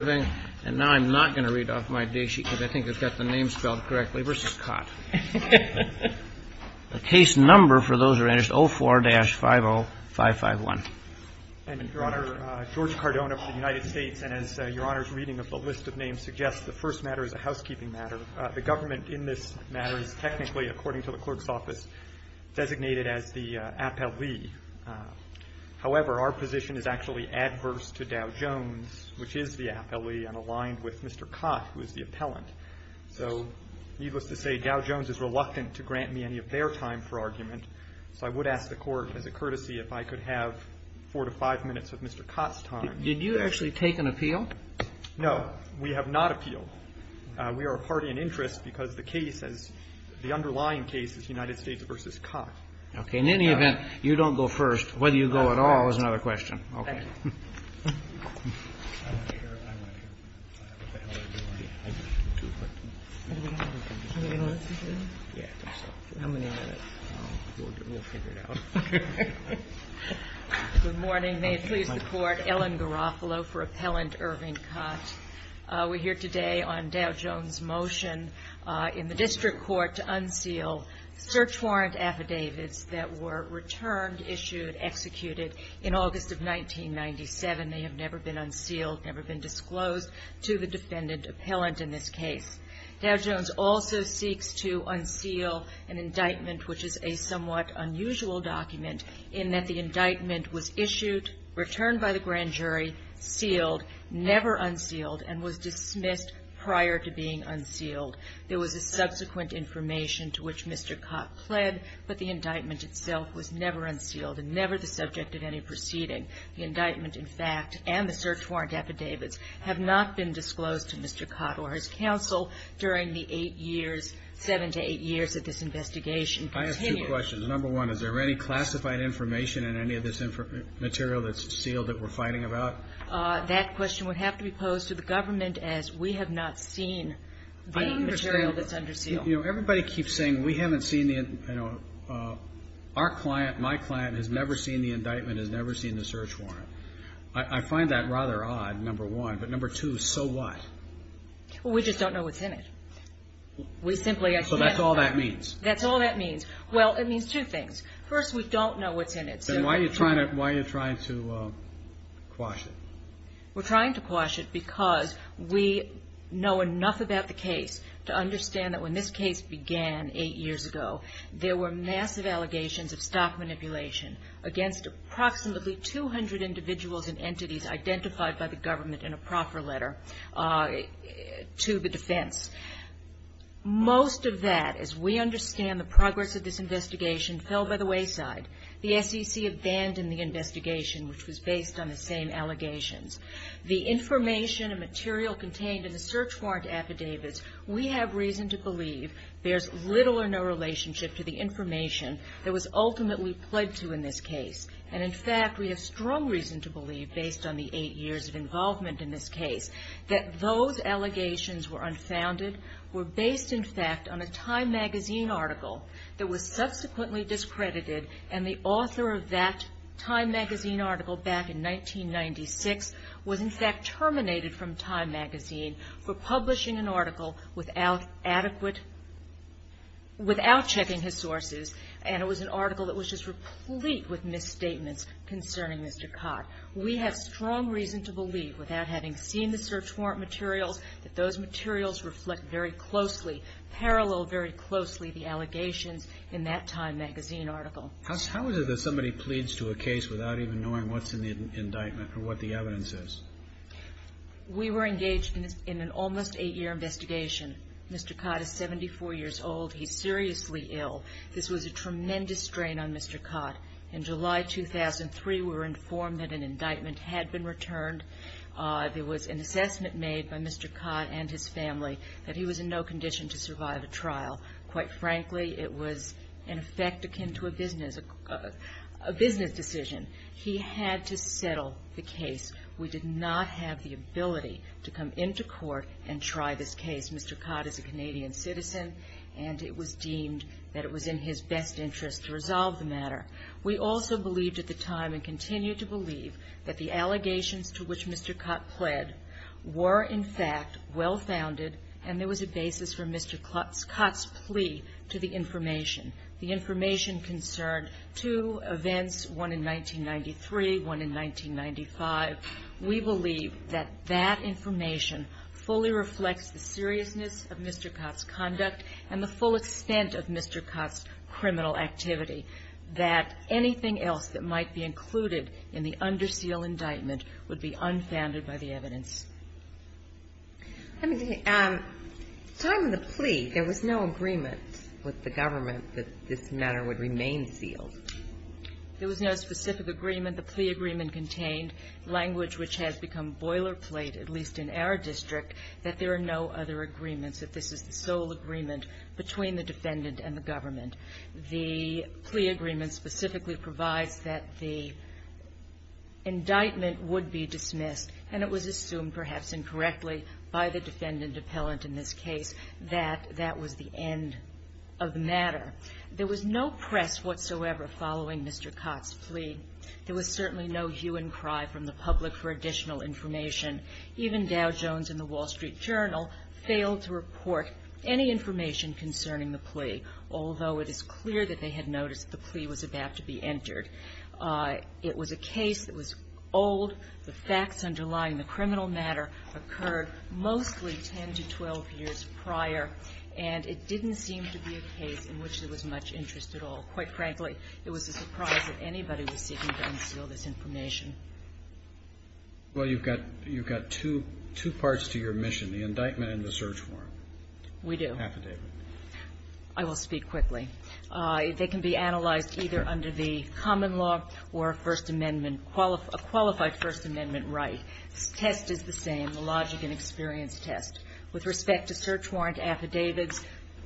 And now I'm not going to read off my day sheet because I think it's got the name spelled correctly, versus Kott. The case number for those who are interested, 04-50551. Your Honor, George Cardona for the United States, and as Your Honor's reading of the list of names suggests, the first matter is a housekeeping matter. The government in this matter is technically, according to the clerk's office, designated as the appellee. However, our position is actually adverse to Dow Jones, which is the appellee, and aligned with Mr. Kott, who is the appellant. So needless to say, Dow Jones is reluctant to grant me any of their time for argument, so I would ask the Court as a courtesy if I could have four to five minutes of Mr. Kott's time. Did you actually take an appeal? No, we have not appealed. We are a party in interest because the underlying case is United States v. Kott. Okay, in any event, you don't go first. Whether you go at all is another question. Good morning. May it please the Court, Ellen Garofalo for Appellant Irving Kott. We're here today on Dow Jones' motion in the district court to unseal search warrant affidavits that were returned, issued, executed in August of 1997. They have never been unsealed, never been disclosed to the defendant appellant in this case. Dow Jones also seeks to unseal an indictment, which is a somewhat unusual document, in that the indictment was issued, returned by the grand jury, sealed, never unsealed, and was dismissed prior to being unsealed. There was a subsequent information to which Mr. Kott pled, but the indictment itself was never unsealed and never the subject of any proceeding. The indictment, in fact, and the search warrant affidavits have not been disclosed to Mr. Kott or his counsel during the eight years, seven to eight years that this investigation continued. I have two questions. Number one, is there any classified information in any of this material that's sealed that we're fighting about? That question would have to be posed to the government as we have not seen the material that's under seal. You know, everybody keeps saying we haven't seen the, you know, our client, my client has never seen the indictment, has never seen the search warrant. I find that rather odd, number one, but number two, so what? We just don't know what's in it. So that's all that means? That's all that means. Well, it means two things. First, we don't know what's in it. Then why are you trying to quash it? We're trying to quash it because we know enough about the case to understand that when this case began eight years ago, there were massive allegations of stock manipulation against approximately 200 individuals and entities identified by the government in a proffer letter to the defense. Most of that, as we understand the progress of this investigation, fell by the wayside. The SEC abandoned the investigation, which was based on the same allegations. The information and material contained in the search warrant affidavits, we have reason to believe bears little or no relationship to the information that was ultimately pled to in this case. And in fact, we have strong reason to believe, based on the eight years of involvement in this case, that those allegations were unfounded, were based in fact on a Time magazine article that was subsequently discredited, and the author of that Time magazine article back in 1996 was in fact terminated from Time magazine for publishing an article without adequate, without checking his sources, and it was an article that was just replete with misstatements concerning Mr. Cott. We have strong reason to believe, without having seen the search warrant materials, that those materials reflect very closely, parallel very closely the allegations in that Time magazine article. How is it that somebody pleads to a case without even knowing what's in the indictment or what the evidence is? We were engaged in an almost eight-year investigation. Mr. Cott is 74 years old. He's seriously ill. This was a tremendous strain on Mr. Cott. In July 2003, we were informed that an indictment had been returned. There was an assessment made by Mr. Cott and his family that he was in no condition to survive a trial. Quite frankly, it was in effect akin to a business decision. He had to settle the case. We did not have the ability to come into court and try this case. Mr. Cott is a Canadian citizen, and it was deemed that it was in his best interest to resolve the matter. We also believed at the time and continue to believe that the allegations to which Mr. Cott pled were, in fact, well-founded, and there was a basis for Mr. Cott's plea to the information. The information concerned two events, one in 1993, one in 1995. We believe that that information fully reflects the seriousness of Mr. Cott's conduct and the full extent of Mr. Cott's criminal activity, that anything else that might be included in the under seal indictment would be unfounded by the evidence. I mean, at the time of the plea, there was no agreement with the government that this matter would remain sealed. There was no specific agreement. The plea agreement contained language which has become boilerplate, at least in our district, that there are no other agreements, that this is the sole agreement between the defendant and the government. The plea agreement specifically provides that the indictment would be dismissed, and it was assumed, perhaps incorrectly by the defendant appellant in this case, that that was the end of the matter. There was no press whatsoever following Mr. Cott's plea. There was certainly no hue and cry from the public for additional information. Even Dow Jones and the Wall Street Journal failed to report any information concerning the plea, although it is clear that they had noticed that the plea was about to be entered. It was a case that was old. The facts underlying the criminal matter occurred mostly 10 to 12 years prior, and it didn't seem to be a case in which there was much interest at all. Quite frankly, it was a surprise that anybody was seeking to unseal this information. Well, you've got two parts to your mission, the indictment and the search warrant. We do. Affidavit. I will speak quickly. They can be analyzed either under the common law or a First Amendment, a qualified First Amendment right. The test is the same, the logic and experience test. With respect to search warrant affidavits,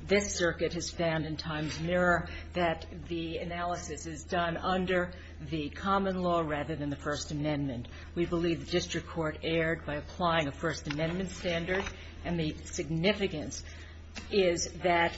this circuit has found in Times-Mirror that the analysis is done under the common law rather than the First Amendment. We believe the district court erred by applying a First Amendment standard, and the significance is that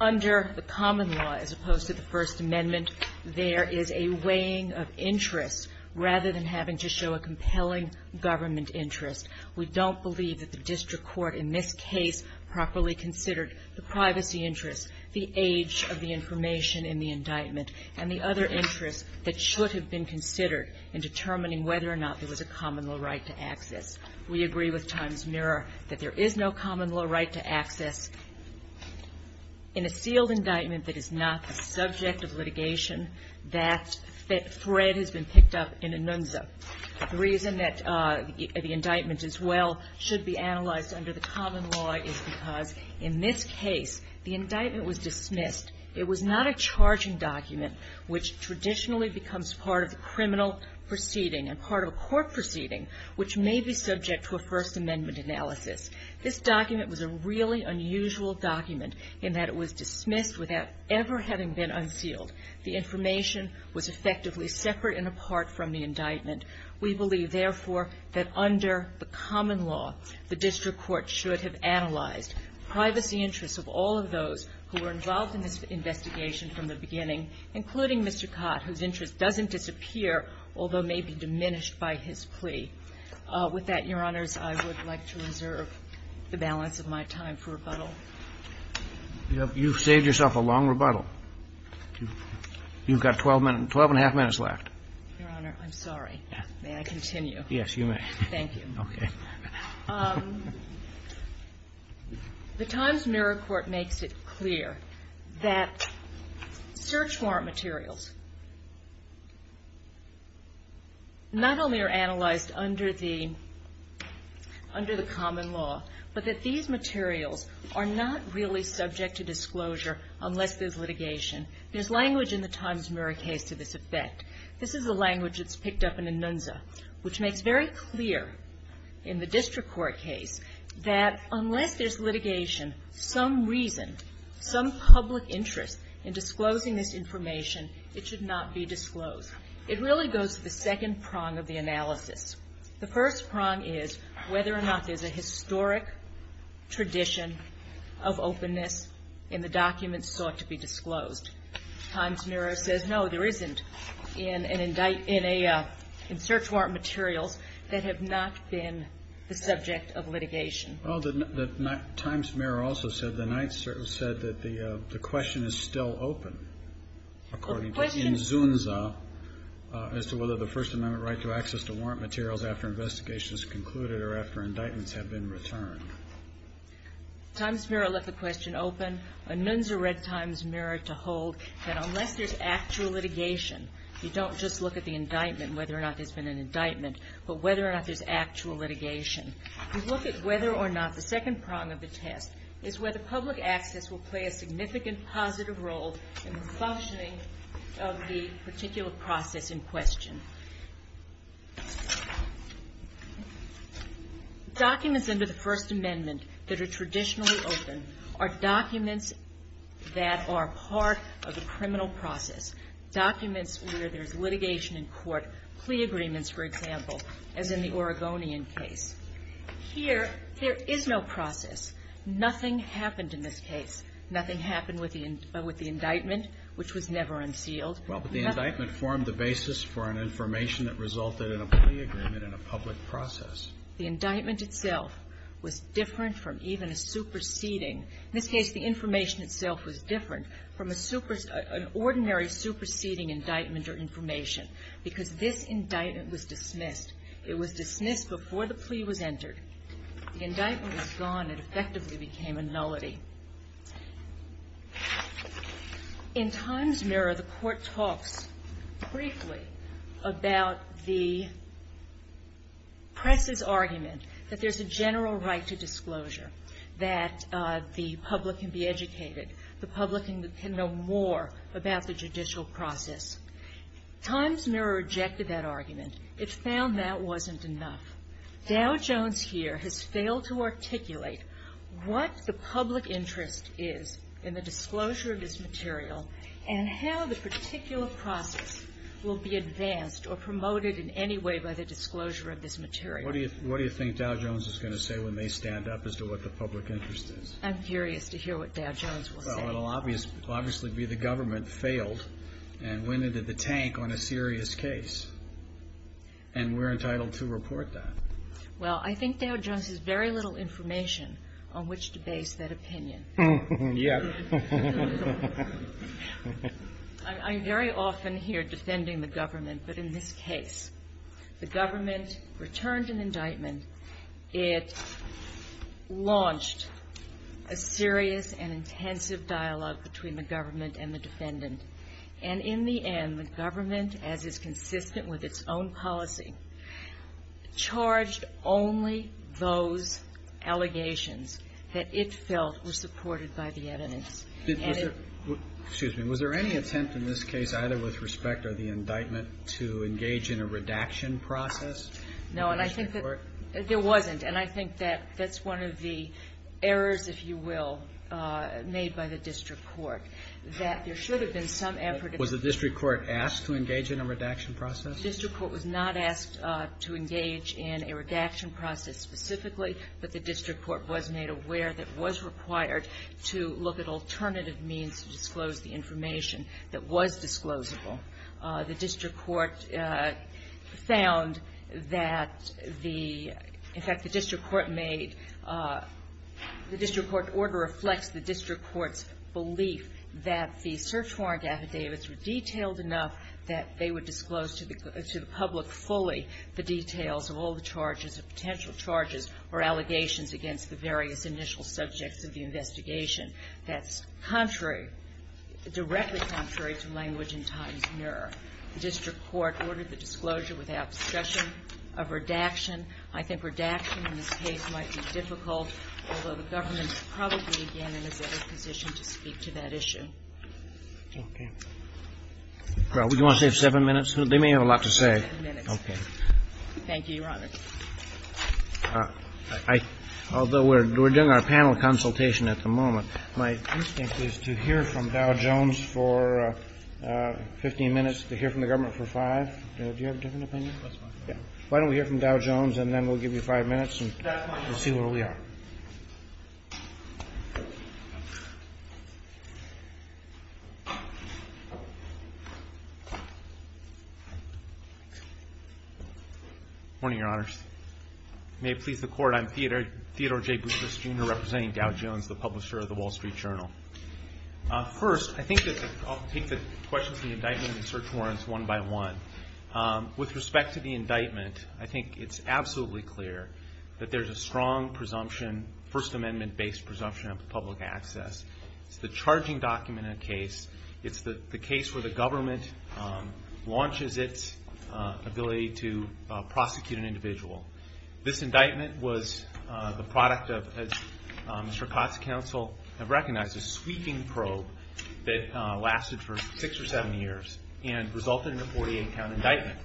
under the common law as opposed to the First Amendment, there is a weighing of interests rather than having to show a compelling government interest. We don't believe that the district court in this case properly considered the privacy interests, the age of the information in the indictment, and the other interests that should have been considered in determining whether or not there was a common law right to access. We agree with Times-Mirror that there is no common law right to access. In a sealed indictment that is not the subject of litigation, that thread has been picked up in a nunza. The reason that the indictment, as well, should be analyzed under the common law is because in this case, the indictment was dismissed. It was not a charging document, which traditionally becomes part of the criminal proceeding and part of a court proceeding, which may be subject to a First Amendment analysis. This document was a really unusual document in that it was dismissed without ever having been unsealed. The information was effectively separate and apart from the indictment. We believe, therefore, that under the common law, the district court should have analyzed privacy interests of all of those who were involved in this investigation from the beginning, including Mr. Cott, whose interest doesn't disappear, although may be diminished by his plea. With that, Your Honors, I would like to reserve the balance of my time for rebuttal. You've saved yourself a long rebuttal. Your Honor, I'm sorry. May I continue? Yes, you may. Thank you. Okay. The Times-Mirror Court makes it clear that search warrant materials not only are analyzed under the common law, but that these materials are not really subject to disclosure unless there's litigation. There's language in the Times-Mirror case to this effect. This is the language that's picked up in Anunza, which makes very clear in the district court case that unless there's litigation, some reason, some public interest in disclosing this information, it should not be disclosed. It really goes to the second prong of the analysis. The first prong is whether or not there's a historic tradition of openness in the documents sought to be disclosed. The Times-Mirror says no, there isn't in search warrant materials that have not been the subject of litigation. Well, the Times-Mirror also said that the question is still open, according to Anunza, as to whether the First Amendment right to access to warrant materials after investigation is concluded or after indictments have been returned. The Times-Mirror left the question open. Anunza read Times-Mirror to hold that unless there's actual litigation, you don't just look at the indictment, whether or not there's been an indictment, but whether or not there's actual litigation. You look at whether or not the second prong of the test is whether public access will play a significant positive role in the functioning of the particular process in question. Documents under the First Amendment that are traditionally open are documents that are part of the criminal process, documents where there's litigation in court, plea agreements, for example, as in the Oregonian case. Here, there is no process. Nothing happened in this case. Nothing happened with the indictment, which was never unsealed. Well, but the indictment formed the basis for an information that resulted in a plea agreement and a public process. The indictment itself was different from even a superseding. In this case, the information itself was different from a superseding an ordinary superseding indictment or information because this indictment was dismissed. It was dismissed before the plea was entered. The indictment was gone. It effectively became a nullity. In Times-Mirror, the court talks briefly about the press's argument that there's a general right to disclosure, that the public can be educated, the public can know more about the judicial process. Times-Mirror rejected that argument. It found that wasn't enough. Dow Jones here has failed to articulate what the public interest is in the disclosure of this material and how the particular process will be advanced or promoted in any way by the disclosure of this material. What do you think Dow Jones is going to say when they stand up as to what the public interest is? I'm curious to hear what Dow Jones will say. Well, it will obviously be the government failed and went into the tank on a serious case, and we're entitled to report that. Well, I think Dow Jones has very little information on which to base that opinion. Yes. I'm very often here defending the government, but in this case, the government returned an indictment. It launched a serious and intensive dialogue between the government and the defendant. And in the end, the government, as is consistent with its own policy, charged only those allegations that it felt were supported by the evidence. Excuse me. Was there any attempt in this case, either with respect or the indictment, to engage in a redaction process? No. And I think that there wasn't. And I think that that's one of the errors, if you will, made by the district court, that there should have been some effort. Was the district court asked to engage in a redaction process? The district court was not asked to engage in a redaction process specifically, but the district court was made aware that it was required to look at alternative means to disclose the information that was disclosable. The district court found that the — in fact, the district court made — the district court order reflects the district court's belief that the search warrant affidavits were detailed enough that they would disclose to the public fully the details of all the charges, the potential charges or allegations against the various initial subjects of the investigation. That's contrary — directly contrary to language and time's mirror. The district court ordered the disclosure without discussion of redaction. I think redaction in this case might be difficult, although the government is probably again in a better position to speak to that issue. Okay. Well, do you want to save seven minutes? They may have a lot to say. Seven minutes. Okay. Thank you, Your Honor. I — although we're doing our panel consultation at the moment, my instinct is to hear from Dow Jones for 15 minutes, to hear from the government for five. Do you have a different opinion? That's fine. Yeah. Why don't we hear from Dow Jones, and then we'll give you five minutes and see where we are. Thank you. Good morning, Your Honors. May it please the Court, I'm Theodore J. Bucharest, Jr., representing Dow Jones, the publisher of the Wall Street Journal. First, I think that I'll take the question of the indictment and the search warrants one by one. With respect to the indictment, I think it's absolutely clear that there's a strong presumption, First Amendment-based presumption of public access. It's the charging document in a case. It's the case where the government launches its ability to prosecute an individual. This indictment was the product of, as Mr. Kotz and counsel have recognized, a sweeping probe that lasted for six or seven years and resulted in a 48-count indictment.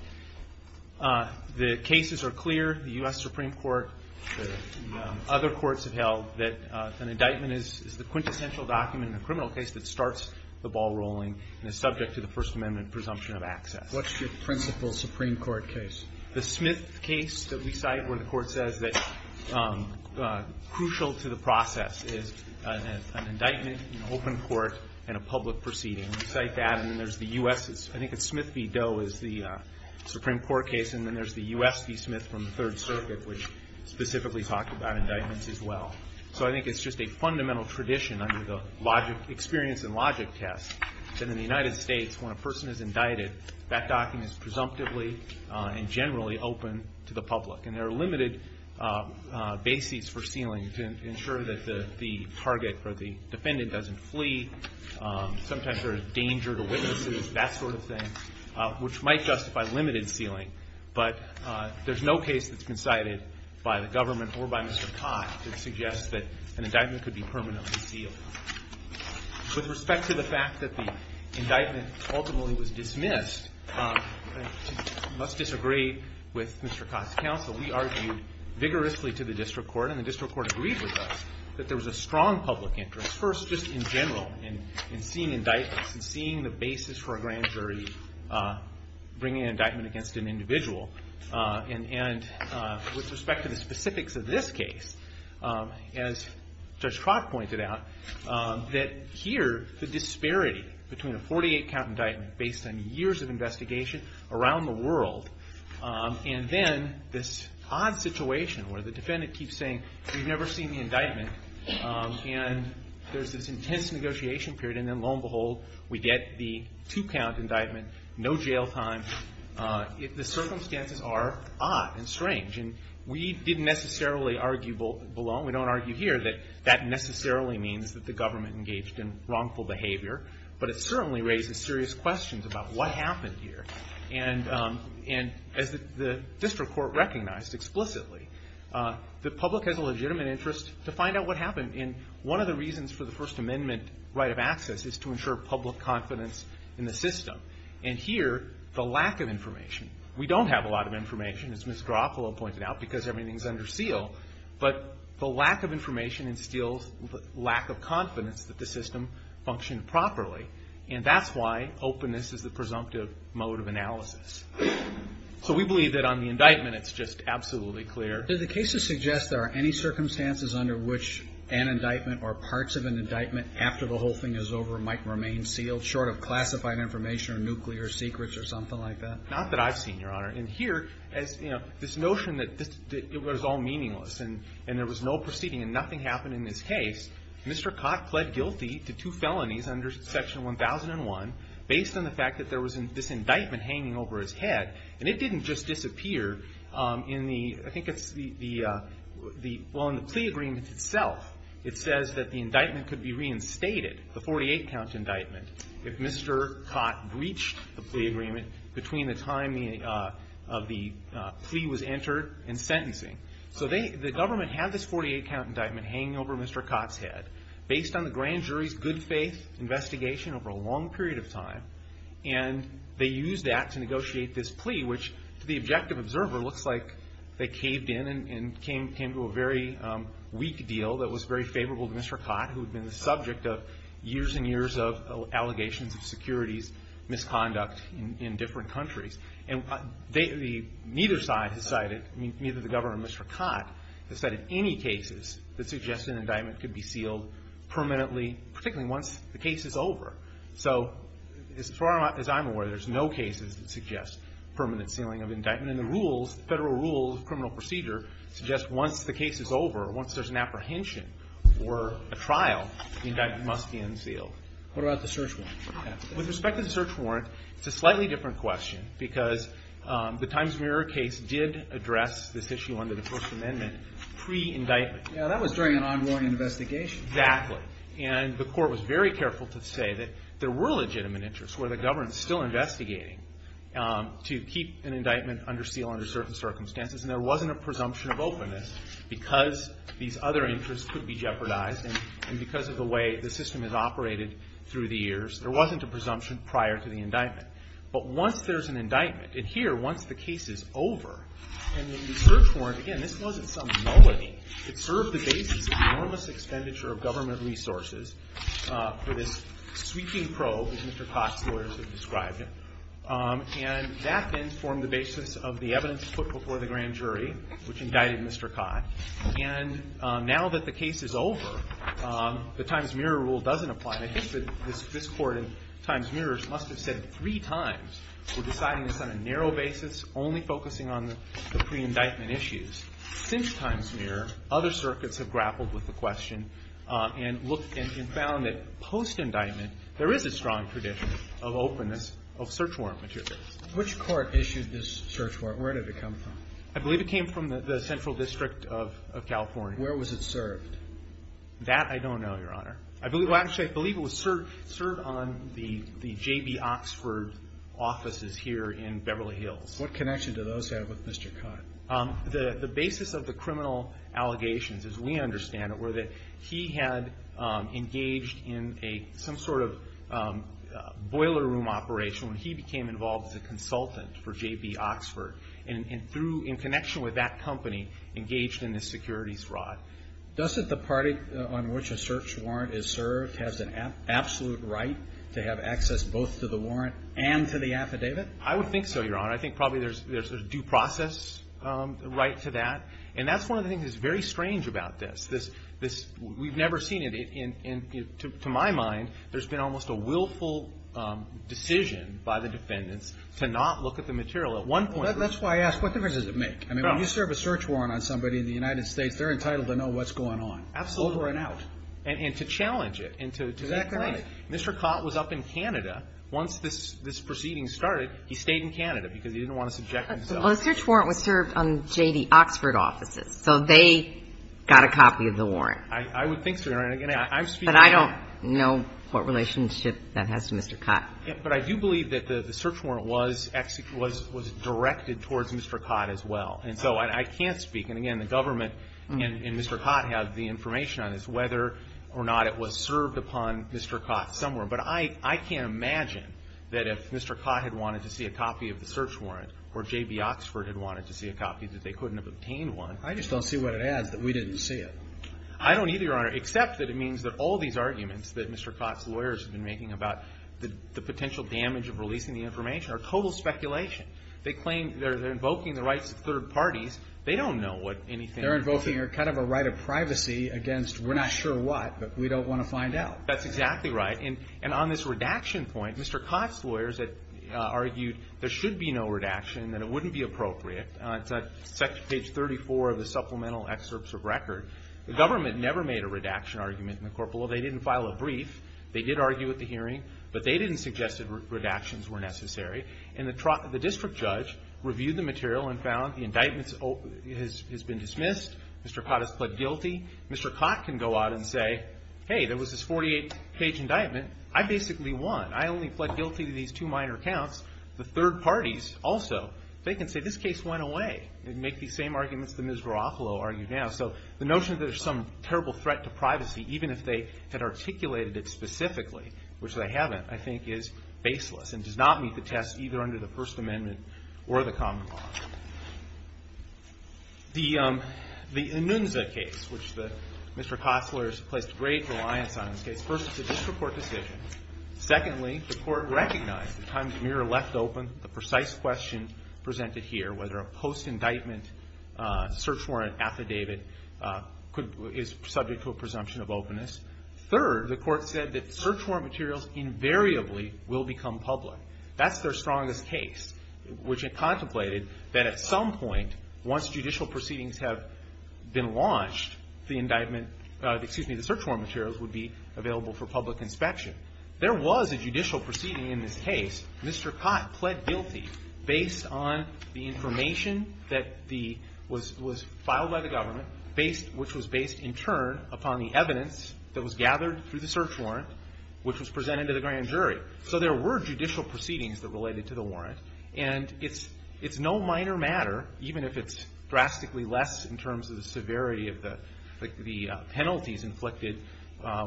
The cases are clear. The U.S. Supreme Court, the other courts have held that an indictment is the quintessential document in a criminal case that starts the ball rolling and is subject to the First Amendment presumption of access. What's your principal Supreme Court case? The Smith case that we cite where the Court says that crucial to the process is an indictment, an open court, and a public proceeding. We cite that, and then there's the U.S.'s. I think it's Smith v. Doe is the Supreme Court case, and then there's the U.S. v. Smith from the Third Circuit, which specifically talked about indictments as well. So I think it's just a fundamental tradition under the experience and logic test that in the United States, when a person is indicted, that document is presumptively and generally open to the public. And there are limited bases for sealing to ensure that the target or the defendant doesn't flee. Sometimes there is danger to witnesses, that sort of thing, which might justify limited sealing. But there's no case that's been cited by the government or by Mr. Cott that suggests that an indictment could be permanently sealed. With respect to the fact that the indictment ultimately was dismissed, I must disagree with Mr. Cott's counsel. We argued vigorously to the district court, and the district court agreed with us, that there was a strong public interest, first just in general, in seeing indictments and seeing the basis for a grand jury bringing an indictment against an individual. And with respect to the specifics of this case, as Judge Crock pointed out, that here the disparity between a 48-count indictment based on years of investigation around the world and then this odd situation where the defendant keeps saying, we've never seen the indictment, and there's this intense negotiation period, and then lo and behold, we get the two-count indictment, no jail time. The circumstances are odd and strange, and we didn't necessarily argue below. We don't argue here that that necessarily means that the government engaged in wrongful behavior, but it certainly raises serious questions about what happened here. And as the district court recognized explicitly, the public has a legitimate interest to find out what happened, and one of the reasons for the First Amendment right of access is to ensure public confidence in the system. And here, the lack of information. We don't have a lot of information, as Ms. Garofalo pointed out, because everything is under seal, but the lack of information instills lack of confidence that the system functioned properly, and that's why openness is the presumptive mode of analysis. So we believe that on the indictment, it's just absolutely clear. Do the cases suggest there are any circumstances under which an indictment or parts of an indictment after the whole thing is over might remain sealed, short of classified information or nuclear secrets or something like that? Not that I've seen, Your Honor. And here, as, you know, this notion that it was all meaningless and there was no proceeding and nothing happened in this case, Mr. Cott pled guilty to two felonies under Section 1001, based on the fact that there was this indictment hanging over his head. And it didn't just disappear in the, I think it's the, well, in the plea agreement itself. It says that the indictment could be reinstated, the 48-count indictment, if Mr. Cott breached the plea agreement between the time of the plea was entered and sentencing. So the government had this 48-count indictment hanging over Mr. Cott's head, based on the grand jury's good faith investigation over a long period of time, and they used that to negotiate this plea, which, to the objective observer, looks like they caved in and came to a very weak deal that was very favorable to Mr. Cott, who had been the subject of years and years of allegations of securities misconduct in different countries. And neither side has cited, neither the governor or Mr. Cott has cited any cases that suggest an indictment could be sealed permanently, particularly once the case is over. So as far as I'm aware, there's no cases that suggest permanent sealing of indictment. And the rules, the federal rules of criminal procedure, suggest once the case is over, once there's an apprehension or a trial, the indictment must be unsealed. What about the search warrant? With respect to the search warrant, it's a slightly different question, because the Times-Mirror case did address this issue under the First Amendment pre-indictment. Yeah, that was during an ongoing investigation. Exactly. And the Court was very careful to say that there were legitimate interests where the government is still investigating to keep an indictment under seal under certain circumstances, and there wasn't a presumption of openness because these other interests could be jeopardized. And because of the way the system has operated through the years, there wasn't a presumption prior to the indictment. But once there's an indictment, and here, once the case is over, and the search warrant, again, this wasn't some nullity. It served the basis of the enormous expenditure of government resources for this sweeping probe, as Mr. Cott's lawyers have described it. And that then formed the basis of the evidence put before the grand jury, which indicted Mr. Cott. And now that the case is over, the Times-Mirror rule doesn't apply. I think that this Court in Times-Mirror must have said three times, we're deciding this on a narrow basis, only focusing on the pre-indictment issues. Since Times-Mirror, other circuits have grappled with the question and found that post-indictment, there is a strong tradition of openness of search warrant material. Which court issued this search warrant? Where did it come from? I believe it came from the Central District of California. Where was it served? That I don't know, Your Honor. I believe it was served on the J.B. Oxford offices here in Beverly Hills. What connection do those have with Mr. Cott? The basis of the criminal allegations, as we understand it, were that he had engaged in some sort of boiler room operation when he became involved as a consultant for J.B. Oxford. And in connection with that company, engaged in the securities fraud. Doesn't the party on which a search warrant is served have an absolute right to have access both to the warrant and to the affidavit? I would think so, Your Honor. I think probably there's a due process right to that. And that's one of the things that's very strange about this. We've never seen it. To my mind, there's been almost a willful decision by the defendants to not look at the material. That's why I ask, what difference does it make? When you serve a search warrant on somebody in the United States, they're entitled to know what's going on. Absolutely. Over and out. And to challenge it. Exactly. Mr. Cott was up in Canada once this proceeding started. He stayed in Canada because he didn't want to subject himself. Well, the search warrant was served on J.B. Oxford offices. So they got a copy of the warrant. I would think so, Your Honor. But I don't know what relationship that has to Mr. Cott. But I do believe that the search warrant was directed towards Mr. Cott as well. And so I can't speak. And, again, the government and Mr. Cott have the information on this, whether or not it was served upon Mr. Cott somewhere. But I can't imagine that if Mr. Cott had wanted to see a copy of the search warrant or J.B. Oxford had wanted to see a copy that they couldn't have obtained one. I just don't see what it adds that we didn't see it. I don't either, Your Honor, except that it means that all these arguments that Mr. Cott's lawyers have been making about the potential damage of releasing the information are total speculation. They claim they're invoking the rights of third parties. They don't know what anything is. They're invoking kind of a right of privacy against we're not sure what, but we don't want to find out. That's exactly right. And on this redaction point, Mr. Cott's lawyers argued there should be no redaction and that it wouldn't be appropriate. It's on page 34 of the supplemental excerpts of record. The government never made a redaction argument in the court below. They didn't file a brief. They did argue at the hearing, but they didn't suggest that redactions were necessary. And the district judge reviewed the material and found the indictment has been dismissed. Mr. Cott has pled guilty. Mr. Cott can go out and say, hey, there was this 48-page indictment. I basically won. I only pled guilty to these two minor counts. The third parties also. They can say this case went away and make these same arguments that Ms. Garofalo argued now. So the notion that there's some terrible threat to privacy, even if they had articulated it specifically, which they haven't, I think is baseless and does not meet the test either under the First Amendment or the common law. The Anunza case, which Mr. Costler has placed great reliance on in this case. First, it's a district court decision. Secondly, the court recognized the time the mirror left open, the precise question presented here, whether a post-indictment search warrant affidavit is subject to a presumption of openness. Third, the court said that search warrant materials invariably will become public. That's their strongest case, which it contemplated that at some point, once judicial proceedings have been launched, the search warrant materials would be available for public inspection. There was a judicial proceeding in this case. Mr. Cott pled guilty based on the information that was filed by the government, which was based in turn upon the evidence that was gathered through the search warrant, which was presented to the grand jury. So there were judicial proceedings that related to the warrant. And it's no minor matter, even if it's drastically less in terms of the severity of the penalties inflicted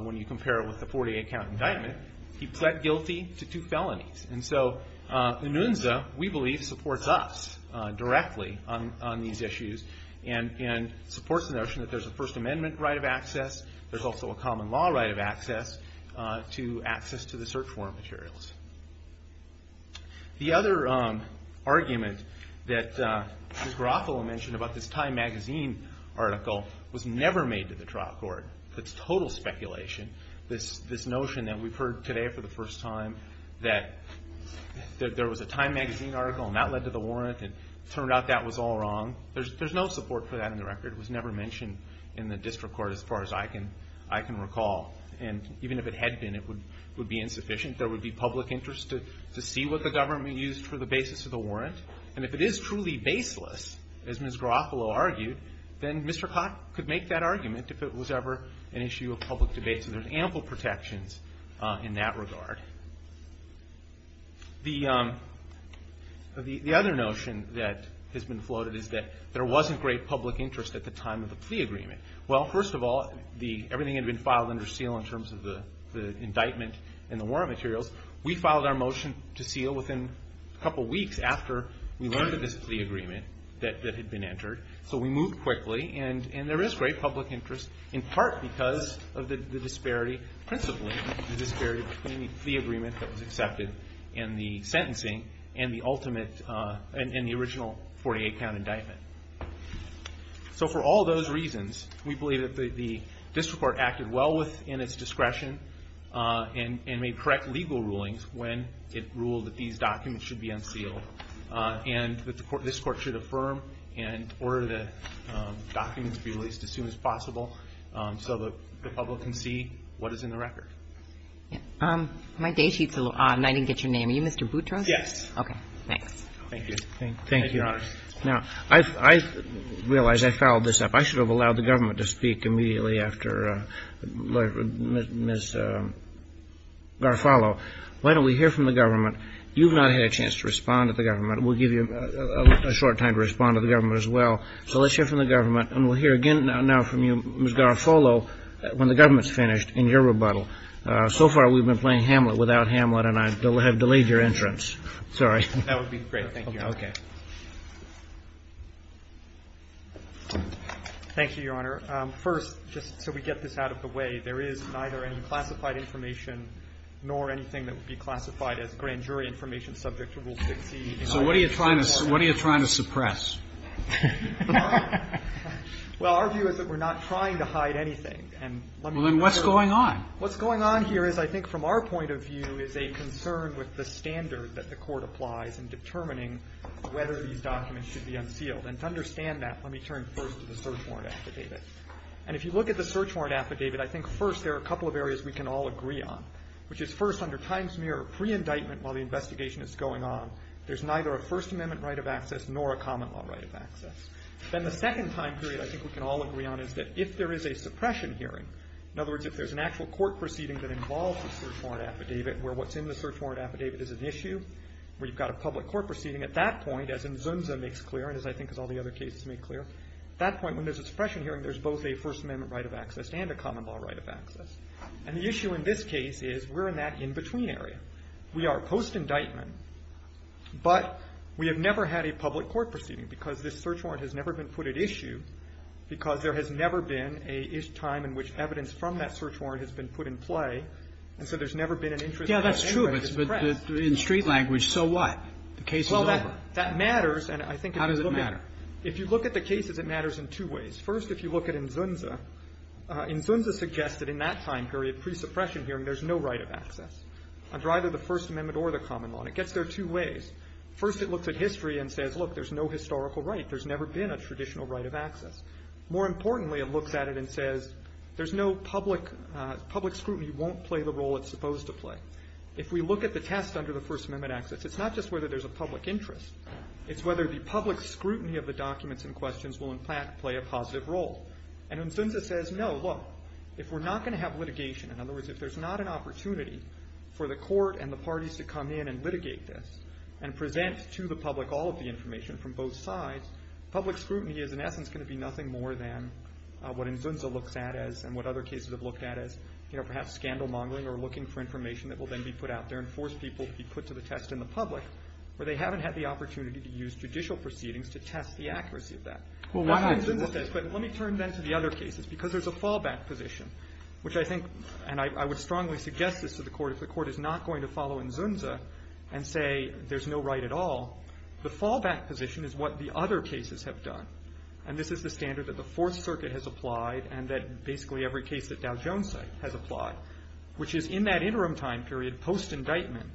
when you compare it with the 48-count indictment. He pled guilty to two felonies. And so Anunza, we believe, supports us directly on these issues and supports the notion that there's a First Amendment right of access. There's also a common law right of access to access to the search warrant materials. The other argument that Ms. Garofalo mentioned about this Time Magazine article was never made to the trial court. It's total speculation, this notion that we've heard today for the first time that there was a Time Magazine article and that led to the warrant and it turned out that was all wrong. There's no support for that in the record. It was never mentioned in the district court as far as I can recall. And even if it had been, it would be insufficient. There would be public interest to see what the government used for the basis of the warrant. And if it is truly baseless, as Ms. Garofalo argued, then Mr. Cott could make that argument if it was ever an issue of public debate. So there's ample protections in that regard. The other notion that has been floated is that there wasn't great public interest at the time of the plea agreement. Well, first of all, everything had been filed under seal in terms of the indictment and the warrant materials. We filed our motion to seal within a couple weeks after we learned of this plea agreement that had been entered. So we moved quickly. And there is great public interest in part because of the disparity, principally the disparity between the plea agreement that was accepted and the original 48-count indictment. So for all those reasons, we believe that the district court acted well within its discretion and made correct legal rulings when it ruled that these documents should be unsealed and that this court should affirm and order the documents to be released as soon as possible so that the public can see what is in the record. My day sheet is a little odd, and I didn't get your name. Are you Mr. Boutros? Yes. Okay, thanks. Thank you. Thank you. Now, I realize I fouled this up. I should have allowed the government to speak immediately after Ms. Garofalo. Why don't we hear from the government? You've not had a chance to respond to the government. We'll give you a short time to respond to the government as well. So let's hear from the government, and we'll hear again now from you, Ms. Garofalo, when the government is finished in your rebuttal. So far, we've been playing Hamlet without Hamlet, and I have delayed your entrance. Sorry. That would be great. Thank you. Okay. Thank you, Your Honor. First, just so we get this out of the way, there is neither any classified information nor anything that would be classified as grand jury information subject to Rule 60. So what are you trying to suppress? Well, our view is that we're not trying to hide anything. Well, then what's going on? What's going on here is, I think, from our point of view, is a concern with the standard that the court applies in determining whether these documents should be unsealed. And to understand that, let me turn first to the search warrant affidavit. And if you look at the search warrant affidavit, I think, first, there are a couple of areas we can all agree on, which is, first, under times mere pre-indictment while the investigation is going on, there's neither a First Amendment right of access nor a common law right of access. Then the second time period I think we can all agree on is that if there is a suppression hearing, in other words, if there's an actual court proceeding that involves a search warrant affidavit where what's in the search warrant affidavit is an issue, where you've got a public court proceeding, at that point, as Nzunza makes clear, and as I think as all the other cases make clear, at that point when there's a suppression hearing, there's both a First Amendment right of access and a common law right of access. And the issue in this case is we're in that in-between area. We are post-indictment, but we have never had a public court proceeding because this search warrant has never been put at issue because there has never been a time in which evidence from that search warrant has been put in play, and so there's never been an interest in any way to suppress. Roberts. But in street language, so what? The case is over. Well, that matters, and I think if you look at it. How does it matter? If you look at the cases, it matters in two ways. First, if you look at Nzunza, Nzunza suggested in that time period, pre-suppression hearing, there's no right of access. It's either the First Amendment or the common law. And it gets there two ways. First, it looks at history and says, look, there's no historical right. There's never been a traditional right of access. More importantly, it looks at it and says, there's no public scrutiny won't play the role it's supposed to play. If we look at the test under the First Amendment access, it's not just whether there's a public interest. It's whether the public scrutiny of the documents and questions will, in fact, play a positive role. And Nzunza says, no, look, if we're not going to have litigation, in other words, if there's not an opportunity for the court and the parties to come in and litigate this and present to the public all of the information from both sides, public scrutiny is, in essence, going to be nothing more than what Nzunza looks at as and what other cases have looked at as, you know, perhaps scandal mongering or looking for information that will then be put out there and force people to be put to the test in the public where they haven't had the opportunity to use judicial proceedings to test the accuracy of that. Let me turn then to the other cases because there's a fallback position, which I think, and I would strongly suggest this to the court, if the court is not going to follow Nzunza and say there's no right at all, the fallback position is what the other cases have done. And this is the standard that the Fourth Circuit has applied and that basically every case that Dow Jones has applied, which is in that interim time period, post-indictment,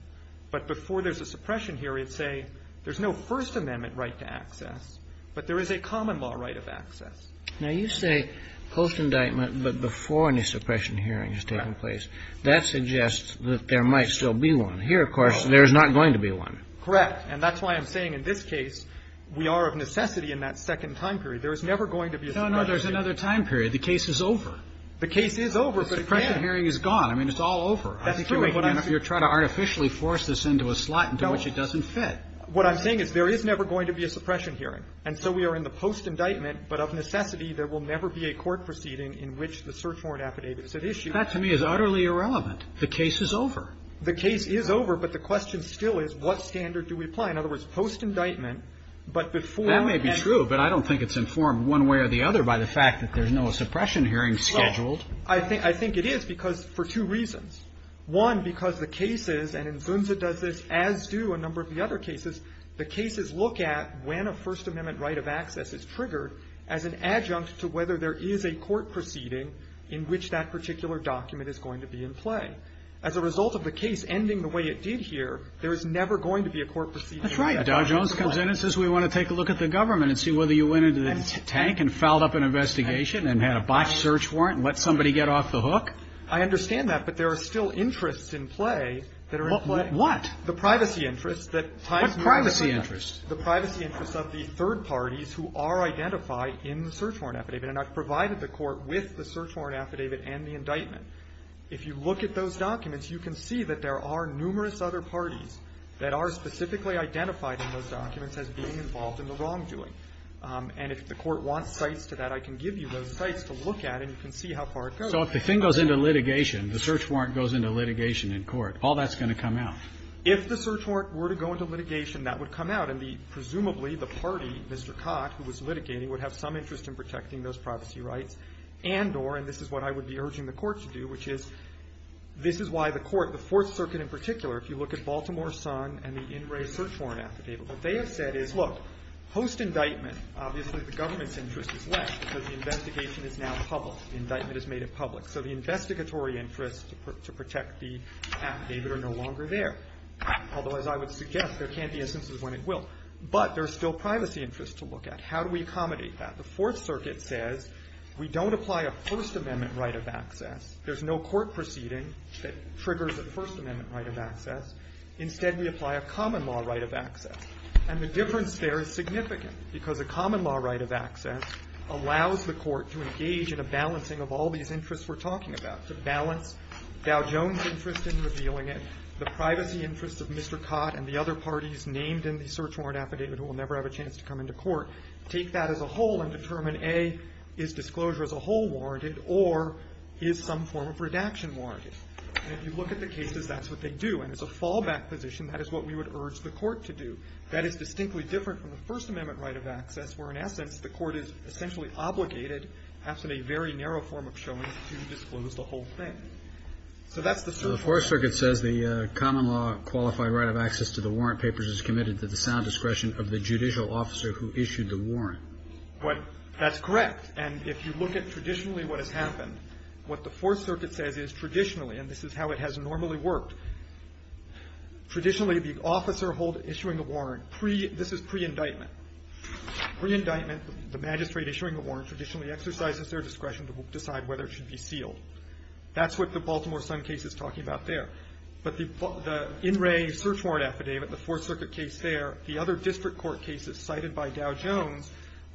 but before there's a suppression hearing, say, there's no First Amendment right to access, but there is a common law right of access. Now, you say post-indictment, but before any suppression hearing has taken place. Right. That suggests that there might still be one. Here, of course, there is not going to be one. Correct. And that's why I'm saying in this case we are of necessity in that second time period. There is never going to be a suppression hearing. No, no. There's another time period. The case is over. The case is over, but it can't. The suppression hearing is gone. I mean, it's all over. That's true. I think you're trying to artificially force this into a slot into which it doesn't fit. No. What I'm saying is there is never going to be a suppression hearing. And so we are in the post-indictment, but of necessity there will never be a court proceeding in which the search warrant affidavit is at issue. That to me is utterly irrelevant. The case is over. The case is over, but the question still is what standard do we apply? In other words, post-indictment, but before... That may be true, but I don't think it's informed one way or the other by the fact that there's no suppression hearing scheduled. I think it is because for two reasons. One, because the cases, and Zunza does this, as do a number of the other cases, the cases look at when a First Amendment right of access is triggered as an adjunct to whether there is a court proceeding in which that particular document is going to be in play. As a result of the case ending the way it did here, there is never going to be a court proceeding... That's right. Dow Jones comes in and says we want to take a look at the government and see whether you went into the tank and filed up an investigation and had a botched search warrant and let somebody get off the hook. I understand that, but there are still interests in play that are in play. What? The privacy interests that... What privacy interests? The privacy interests of the third parties who are identified in the search warrant affidavit. And I've provided the Court with the search warrant affidavit and the indictment. If you look at those documents, you can see that there are numerous other parties that are specifically identified in those documents as being involved in the wrongdoing. And if the Court wants sites to that, I can give you those sites to look at and you can see how far it goes. So if the thing goes into litigation, the search warrant goes into litigation in court, all that's going to come out? If the search warrant were to go into litigation, that would come out. And presumably the party, Mr. Cott, who was litigating, would have some interest in protecting those privacy rights and or, and this is what I would be urging the Court to do. This is why the Court, the Fourth Circuit in particular, if you look at Baltimore Sun and the In Re Search Warrant Affidavit, what they have said is, look, post-indictment, obviously the government's interest is left because the investigation is now public. The indictment is made public. So the investigatory interests to protect the affidavit are no longer there. Although, as I would suggest, there can't be instances when it will. But there's still privacy interests to look at. How do we accommodate that? The Fourth Circuit says we don't apply a First Amendment right of access. There's no court proceeding that triggers a First Amendment right of access. Instead, we apply a common law right of access. And the difference there is significant, because a common law right of access allows the Court to engage in a balancing of all these interests we're talking about, to balance Dow Jones' interest in revealing it, the privacy interests of Mr. Cott and the other parties named in the search warrant affidavit who will never have a chance to come into court, take that as a whole and determine, A, is disclosure as a whole warranted, or is some form of redaction warranted? And if you look at the cases, that's what they do. And it's a fallback position. That is what we would urge the Court to do. That is distinctly different from the First Amendment right of access, where, in essence, the Court is essentially obligated, perhaps in a very narrow form of showing, to disclose the whole thing. So that's the search warrant. Roberts. So the Fourth Circuit says the common law qualified right of access to the warrant papers is committed to the sound discretion of the judicial officer who issued the warrant. That's correct. And if you look at traditionally what has happened, what the Fourth Circuit says is traditionally, and this is how it has normally worked, traditionally the officer issuing a warrant, this is pre-indictment. Pre-indictment, the magistrate issuing a warrant traditionally exercises their discretion to decide whether it should be sealed. That's what the Baltimore Sun case is talking about there. But the in-ray search warrant affidavit, the Fourth Circuit case there, the other case,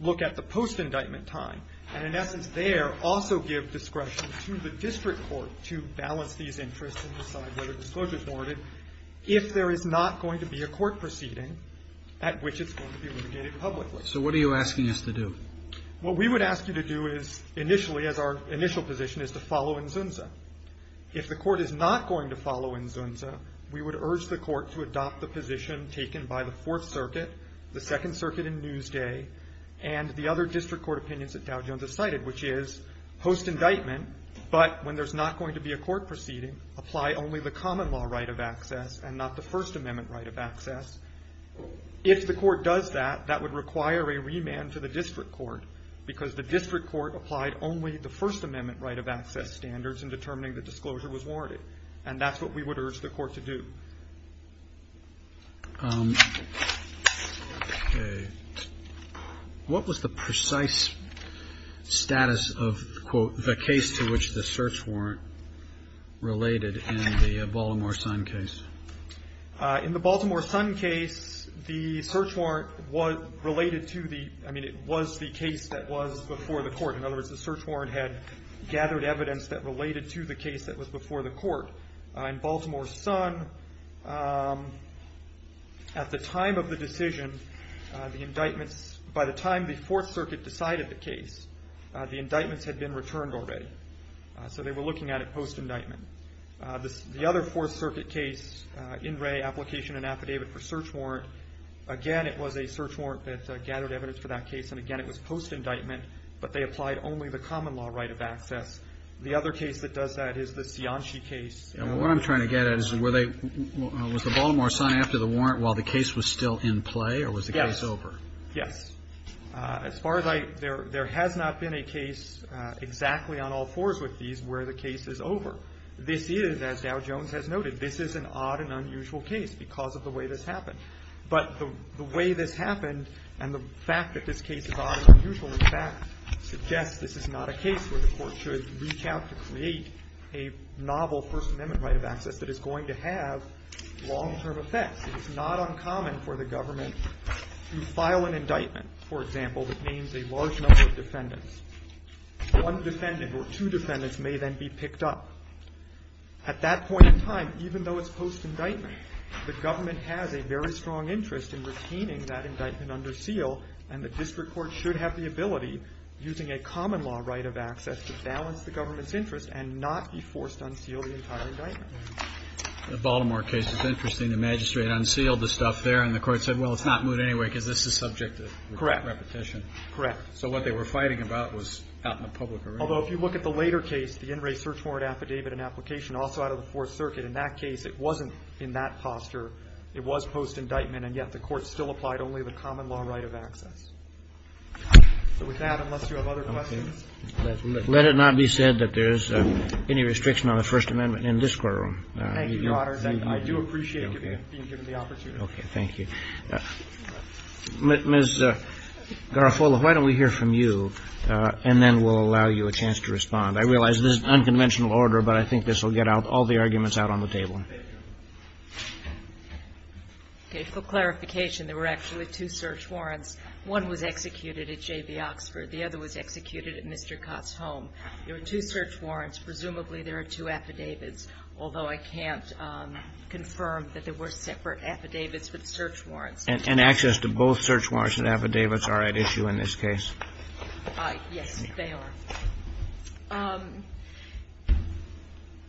look at the post-indictment time, and in essence there also give discretion to the district court to balance these interests and decide whether disclosure is warranted if there is not going to be a court proceeding at which it's going to be litigated publicly. So what are you asking us to do? What we would ask you to do is initially, as our initial position, is to follow in Zunza. If the Court is not going to follow in Zunza, we would urge the Court to adopt the Second Circuit in Newsday and the other district court opinions that Dow Jones has cited, which is post-indictment, but when there's not going to be a court proceeding, apply only the common law right of access and not the First Amendment right of access. If the Court does that, that would require a remand to the district court because the district court applied only the First Amendment right of access standards in determining that disclosure was warranted. And that's what we would urge the Court to do. Okay. What was the precise status of, quote, the case to which the search warrant related in the Baltimore Sun case? In the Baltimore Sun case, the search warrant was related to the – I mean, it was the case that was before the Court. In other words, the search warrant had gathered evidence that related to the case that was before the Court. In Baltimore Sun, at the time of the decision, the indictments – by the time the Fourth Circuit decided the case, the indictments had been returned already. So they were looking at it post-indictment. The other Fourth Circuit case, In Re, Application and Affidavit for Search Warrant, again, it was a search warrant that gathered evidence for that case, and again, it was post-indictment, but they applied only the common law right of access. The other case that does that is the Cianci case. And what I'm trying to get at is, were they – was the Baltimore Sun after the warrant while the case was still in play, or was the case over? Yes. Yes. As far as I – there has not been a case exactly on all fours with these where the case is over. This is, as Dow Jones has noted, this is an odd and unusual case because of the way this happened. But the way this happened and the fact that this case is odd and unusual, in fact, suggests this is not a case where the Court should reach out to create a novel First Amendment right of access that is going to have long-term effects. It is not uncommon for the government to file an indictment, for example, that names a large number of defendants. One defendant or two defendants may then be picked up. At that point in time, even though it's post-indictment, the government has a very strong interest in retaining that indictment under seal, and the district court should have the ability, using a common law right of access, to balance the government's interest and not be forced to unseal the entire indictment. The Baltimore case is interesting. The magistrate unsealed the stuff there, and the court said, well, it's not moot anyway because this is subject to repetition. Correct. Correct. So what they were fighting about was out in the public arena. Although if you look at the later case, the in-ray search warrant affidavit and application, also out of the Fourth Circuit, in that case it wasn't in that posture. It was post-indictment, and yet the court still applied only the common law right of access. So with that, unless you have other questions? Let it not be said that there's any restriction on the First Amendment in this courtroom. Thank you, Your Honor. I do appreciate you being given the opportunity. Okay. Thank you. Ms. Garofalo, why don't we hear from you, and then we'll allow you a chance to respond. I realize this is an unconventional order, but I think this will get all the arguments out on the table. Thank you. Okay. For clarification, there were actually two search warrants. One was executed at J.B. Oxford. The other was executed at Mr. Cott's home. There were two search warrants. Presumably there are two affidavits, although I can't confirm that there were separate affidavits with search warrants. And access to both search warrants and affidavits are at issue in this case. Yes, they are.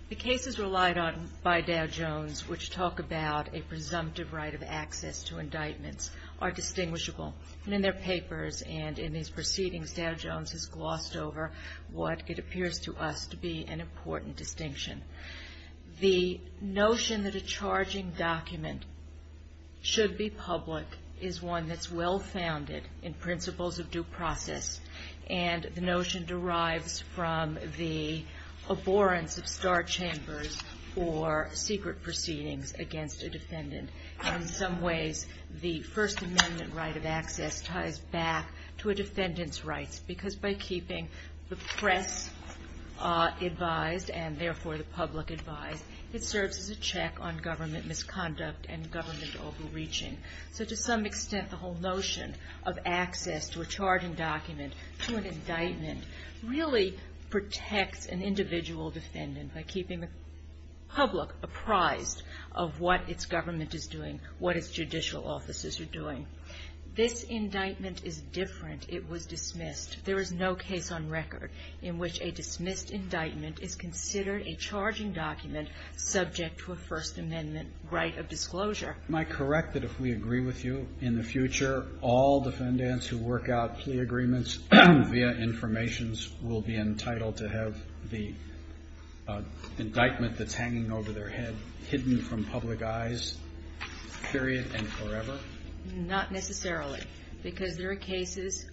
The cases relied on by Dow Jones, which talk about a presumptive right of access to indictments, are distinguishable. And in their papers and in these proceedings, Dow Jones has glossed over what it appears to us to be an important distinction. The notion that a charging document should be public is one that's well-founded in principles of due process. And the notion derives from the abhorrence of star chambers for secret proceedings against a defendant. And in some ways, the First Amendment right of access ties back to a defendant's rights, because by keeping the press advised and therefore the public advised, it serves as a check on government misconduct and government overreaching. So to some extent, the whole notion of access to a charging document to an indictment really protects an individual defendant by keeping the public apprised of what its government is doing, what its judicial offices are doing. This indictment is different. It was dismissed. There is no case on record in which a dismissed indictment is considered a charging document subject to a First Amendment right of disclosure. Am I correct that if we agree with you, in the future, all defendants who work out plea agreements via informations will be entitled to have the indictment that's hanging over their head hidden from public eyes, period and forever? Not necessarily, because there are cases,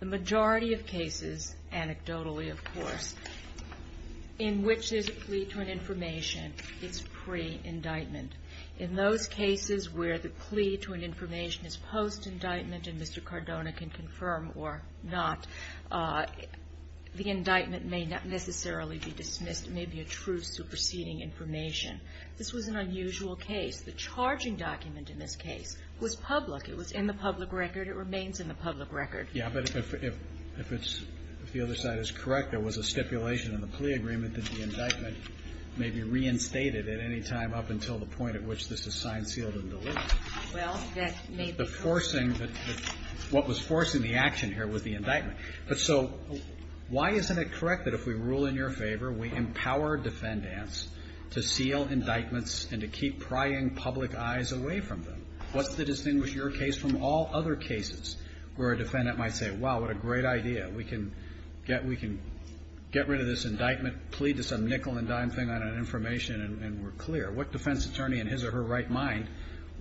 the majority of cases, anecdotally, of course, in which there's a plea to an information, it's pre-indictment. In those cases where the plea to an information is post-indictment and Mr. Cardona can confirm or not, the indictment may not necessarily be dismissed. It may be a true superseding information. This was an unusual case. The charging document in this case was public. It was in the public record. It remains in the public record. Yeah, but if it's, if the other side is correct, there was a stipulation in the plea agreement that the indictment may be reinstated at any time up until the point at which this is signed, sealed, and delivered. Well, that may be true. The forcing, what was forcing the action here was the indictment. But so why isn't it correct that if we rule in your favor, we empower defendants to seal indictments and to keep prying public eyes away from them? What's to distinguish your case from all other cases where a defendant might say, wow, what a great idea. We can get, we can get rid of this indictment plea to some nickel and dime thing on an information and we're clear. What defense attorney in his or her right mind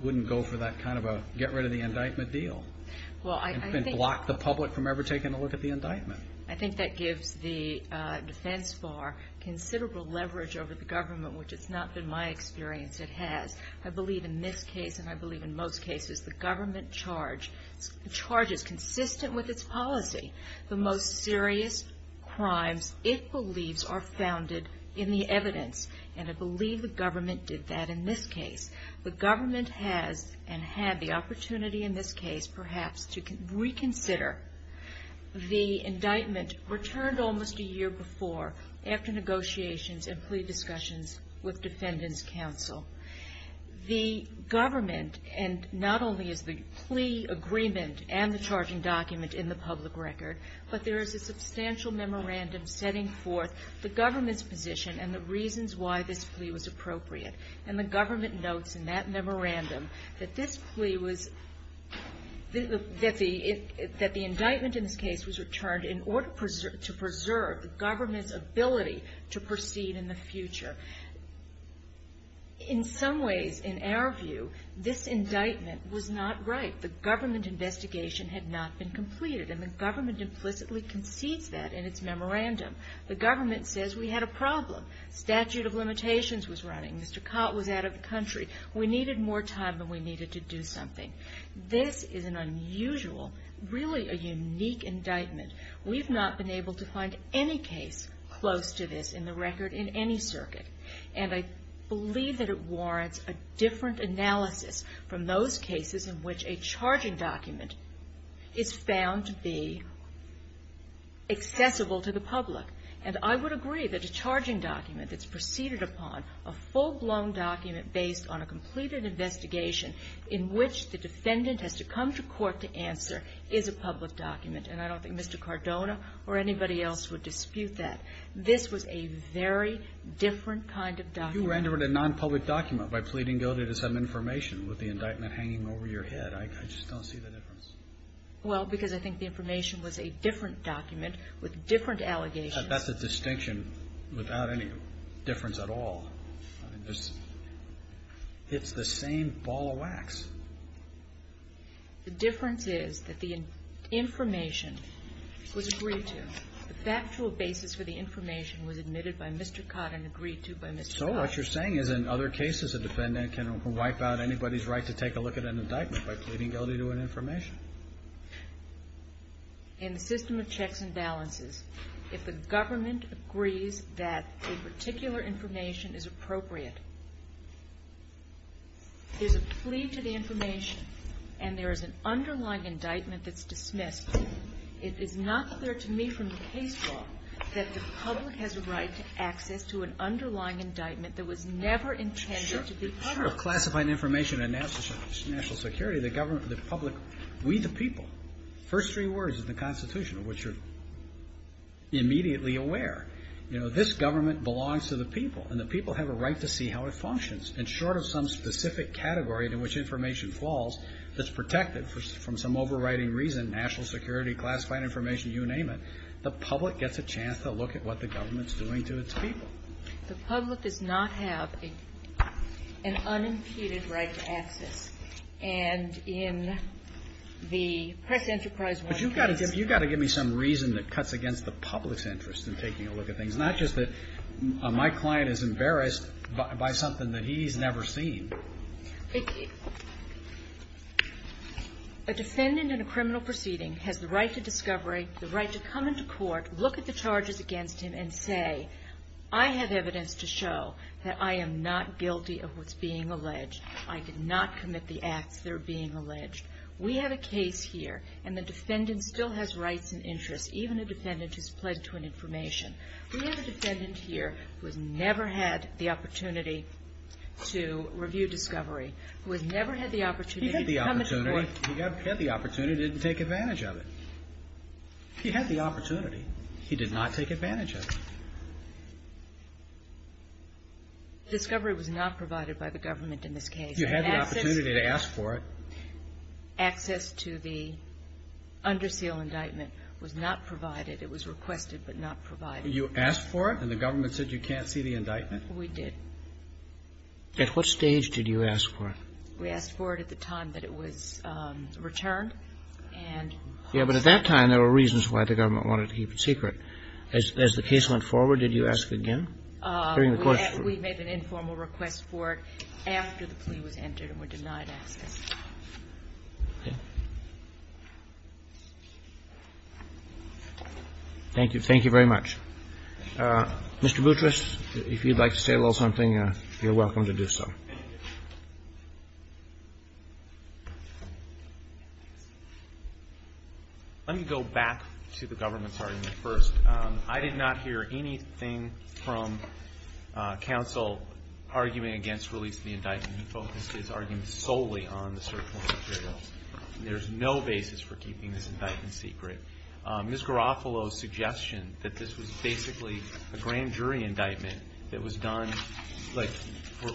wouldn't go for that kind of a get rid of the indictment deal and block the public from ever taking a look at the indictment? I think that gives the defense bar considerable leverage over the government, which it's not been my experience. It has. I believe in this case and I believe in most cases the government charges consistent with its policy the most serious crimes it believes are founded in the evidence. And I believe the government did that in this case. The government has and had the opportunity in this case perhaps to reconsider the indictment returned almost a year before after negotiations and plea discussions with defendant's counsel. The government and not only is the plea agreement and the charging document in the public record but there is a substantial memorandum setting forth the government's position and the reasons why this plea was appropriate. And the government notes in that memorandum that this plea was, that the indictment in this case was returned in order to preserve the government's ability to proceed in the future. In some ways, in our view, this indictment was not right. The government investigation had not been completed and the government implicitly concedes that in its memorandum. The government says we had a problem. Statute of limitations was running. Mr. Cott was out of the country. We needed more time than we needed to do something. This is an unusual, really a unique indictment. We've not been able to find any case close to this in the record in any circuit. And I believe that it warrants a different analysis from those cases in which a charging document is found to be accessible to the public. And I would agree that a charging document that's preceded upon a full-blown document based on a completed investigation in which the defendant has to come to court to answer is a public document. And I don't think Mr. Cardona or anybody else would dispute that. This was a very different kind of document. You rendered it a non-public document by pleading guilty to some information with the indictment hanging over your head. I just don't see the difference. Well, because I think the information was a different document with different allegations. That's a distinction without any difference at all. It's the same ball of wax. The difference is that the information was agreed to. The factual basis for the information was admitted by Mr. Codd and agreed to by Mr. Codd. So what you're saying is in other cases a defendant can wipe out anybody's right to take a look at an indictment by pleading guilty to an information. In the system of checks and balances, if the government agrees that a particular information is appropriate, there's a plea to the information and there is an underlying indictment that's dismissed, it is not clear to me from the case law that the public has a right to access to an underlying indictment that was never intended to be public. Sure. Part of classifying information in national security, the government, the public, we the people, first three words of the Constitution of which you're immediately aware. You know, this government belongs to the people and the people have a right to see how it functions. And short of some specific category to which information falls, that's protected from some overriding reason, national security, classified information, you name it, the public gets a chance to look at what the government's doing to its people. The public does not have an unimpeded right to access. And in the press enterprise world... But you've got to give me some reason that cuts against the public's interest in taking a look at things. Not just that my client is embarrassed by something that he's never seen. A defendant in a criminal proceeding has the right to discovery, the right to come into court, look at the charges against him, and say, I have evidence to show that I am not guilty of what's being alleged. I did not commit the acts that are being alleged. We have a case here and the defendant still has rights and interests, even a defendant who's pled to an information. We have a defendant here who has never had the opportunity to review discovery, who has never had the opportunity to come into court. He had the opportunity. He had the opportunity to take advantage of it. He had the opportunity. He did not take advantage of it. Discovery was not provided by the government in this case. You had the opportunity to ask for it. Access to the under seal indictment was not provided. It was requested but not provided. You asked for it and the government said you can't see the indictment? We did. At what stage did you ask for it? We asked for it at the time that it was returned. Yeah, but at that time there were reasons why the government wanted to keep it secret. As the case went forward, did you ask again? We made an informal request for it after the plea was entered and were denied access. Okay. Thank you. Thank you very much. Mr. Boutrous, if you'd like to say a little something, you're welcome to do so. Let me go back to the government's argument first. I did not hear anything from counsel arguing against releasing the indictment. The government focused its arguments solely on the search warrant materials. There's no basis for keeping this indictment secret. Ms. Garofalo's suggestion that this was basically a grand jury indictment that was done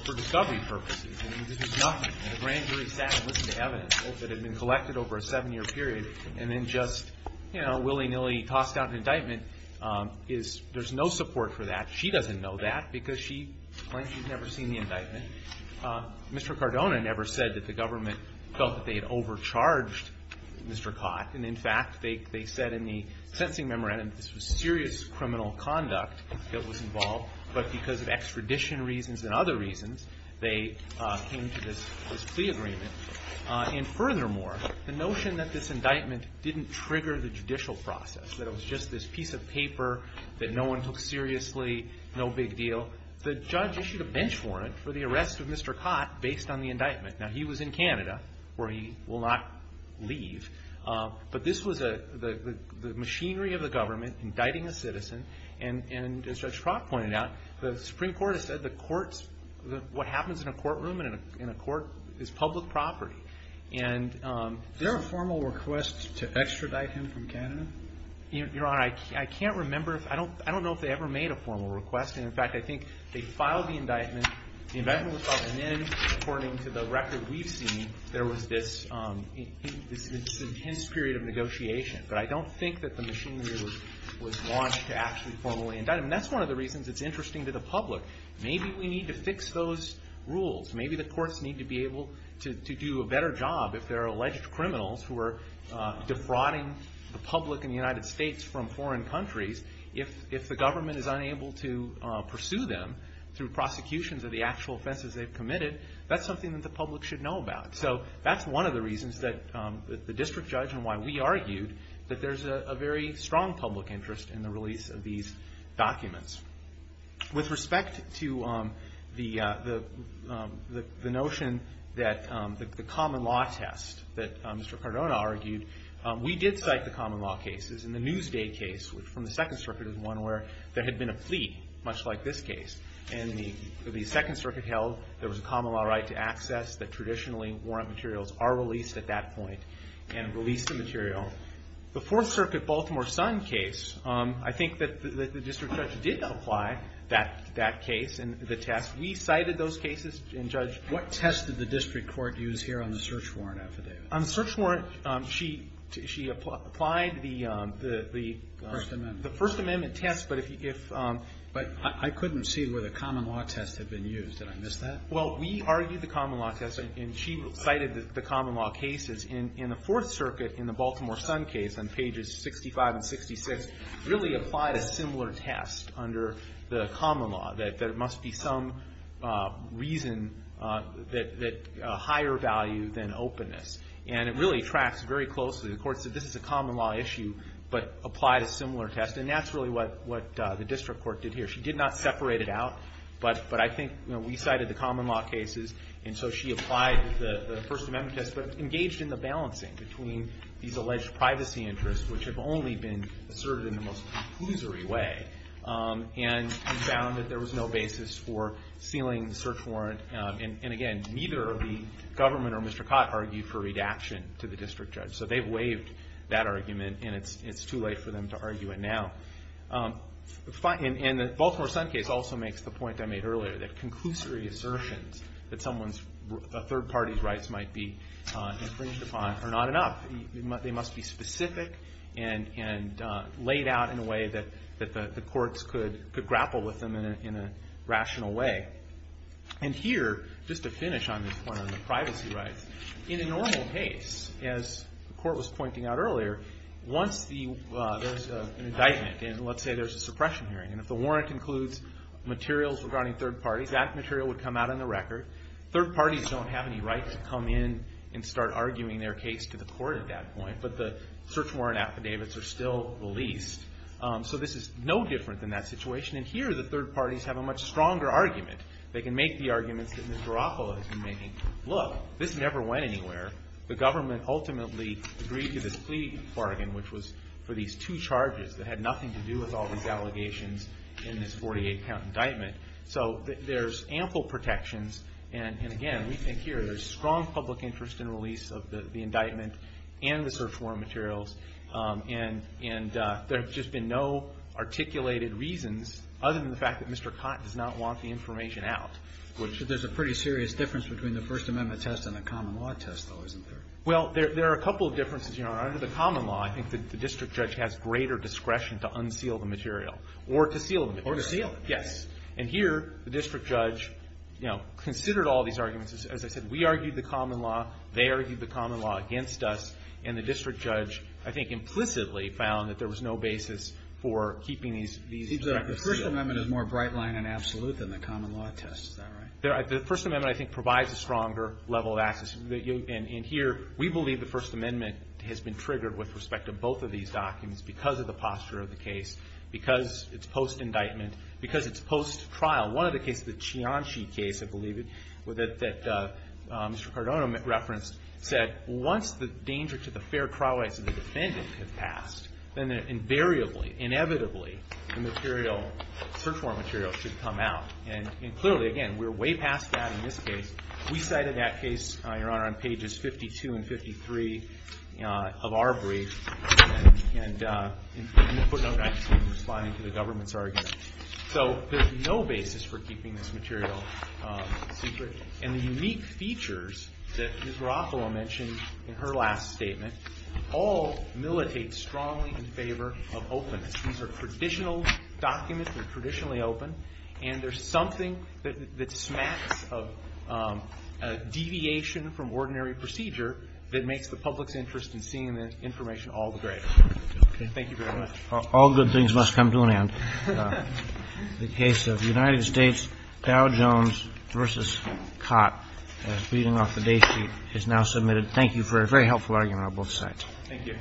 for discovery purposes. I mean, this is nothing. The grand jury sat and listened to evidence that had been collected over a seven-year period and then just willy-nilly tossed out an indictment. There's no support for that. She doesn't know that because she claims she's never seen the indictment. Mr. Cardona never said that the government felt that they had overcharged Mr. Cott. And, in fact, they said in the sentencing memorandum that this was serious criminal conduct that was involved, but because of extradition reasons and other reasons, they came to this plea agreement. And, furthermore, the notion that this indictment didn't trigger the judicial process, that it was just this piece of paper that no one took seriously, no big deal, the judge issued a bench warrant for the arrest of Mr. Cott based on the indictment. Now, he was in Canada, where he will not leave. But this was the machinery of the government indicting a citizen. And, as Judge Crock pointed out, the Supreme Court has said the courts, what happens in a courtroom and in a court is public property. Is there a formal request to extradite him from Canada? Your Honor, I can't remember. I don't know if they ever made a formal request. And, in fact, I think they filed the indictment. The indictment was filed, and then, according to the record we've seen, there was this intense period of negotiation. But I don't think that the machinery was launched to actually formally indict him. And that's one of the reasons it's interesting to the public. Maybe we need to fix those rules. Maybe the courts need to be able to do a better job if there are alleged criminals who are defrauding the public in the United States from foreign countries. If the government is unable to pursue them through prosecutions of the actual offenses they've committed, that's something that the public should know about. So that's one of the reasons that the district judge and why we argued that there's a very strong public interest in the release of these documents. With respect to the notion that the common law test that Mr. Cardona argued, we did cite the common law cases. In the Newsday case from the Second Circuit is one where there had been a plea, much like this case. And the Second Circuit held there was a common law right to access that traditionally warrant materials are released at that point, and released the material. The Fourth Circuit Baltimore Sun case, I think that the district judge did apply that case and the test. We cited those cases and judged. What test did the district court use here on the search warrant affidavit? On the search warrant, she applied the First Amendment test. But I couldn't see where the common law test had been used. Did I miss that? Well, we argued the common law test, and she cited the common law cases. In the Fourth Circuit, in the Baltimore Sun case on pages 65 and 66, really applied a similar test under the common law, that there must be some reason that higher value than openness. And it really tracks very closely. The court said this is a common law issue, but applied a similar test. And that's really what the district court did here. She did not separate it out, but I think we cited the common law cases, and so she applied the First Amendment test, but engaged in the balancing between these alleged privacy interests, which have only been asserted in the most conclusory way. And we found that there was no basis for sealing the search warrant. And, again, neither the government or Mr. Cott argued for redaction to the district judge. So they've waived that argument, and it's too late for them to argue it now. And the Baltimore Sun case also makes the point I made earlier, that conclusory assertions that a third party's rights might be infringed upon are not enough. They must be specific and laid out in a way that the courts could grapple with them in a rational way. And here, just to finish on this point on the privacy rights, in a normal case, as the court was pointing out earlier, once there's an indictment, and let's say there's a suppression hearing, and if the warrant includes materials regarding third parties, that material would come out on the record. Third parties don't have any right to come in and start arguing their case to the court at that point, but the search warrant affidavits are still released. So this is no different than that situation. And here the third parties have a much stronger argument. They can make the arguments that Ms. Garofalo has been making. Look, this never went anywhere. The government ultimately agreed to this plea bargain, which was for these two charges that had nothing to do with all these allegations in this 48-count indictment. So there's ample protections. And, again, we think here there's strong public interest in release of the indictment and the search warrant materials. And there have just been no articulated reasons other than the fact that Mr. Cotton does not want the information out. But there's a pretty serious difference between the First Amendment test and the common law test, though, isn't there? Under the common law, I think the district judge has greater discretion to unseal the material or to seal the material. Or to seal it. Yes. And here the district judge, you know, considered all these arguments. As I said, we argued the common law. They argued the common law against us. And the district judge, I think, implicitly found that there was no basis for keeping these indictments sealed. The First Amendment is more bright-line and absolute than the common law test. Is that right? The First Amendment, I think, provides a stronger level of access. And here we believe the First Amendment has been triggered with respect to both of these documents because of the posture of the case. Because it's post-indictment. Because it's post-trial. One of the cases, the Cianci case, I believe, that Mr. Cardono referenced, said once the danger to the fair trial rights of the defendant has passed, then invariably, inevitably, the material, search warrant material, should come out. And clearly, again, we're way past that in this case. We cited that case, Your Honor, on pages 52 and 53 of our brief. And I'm going to put it out back to you in responding to the government's argument. So there's no basis for keeping this material secret. And the unique features that Ms. Garofalo mentioned in her last statement all militate strongly in favor of openness. These are traditional documents. They're traditionally open. And there's something that smacks of deviation from ordinary procedure that makes the public's interest in seeing the information all the greater. Thank you very much. All good things must come to an end. The case of United States, Dow Jones v. Cott, reading off the date sheet, is now submitted. Thank you for a very helpful argument on both sides. Thank you. Thank you.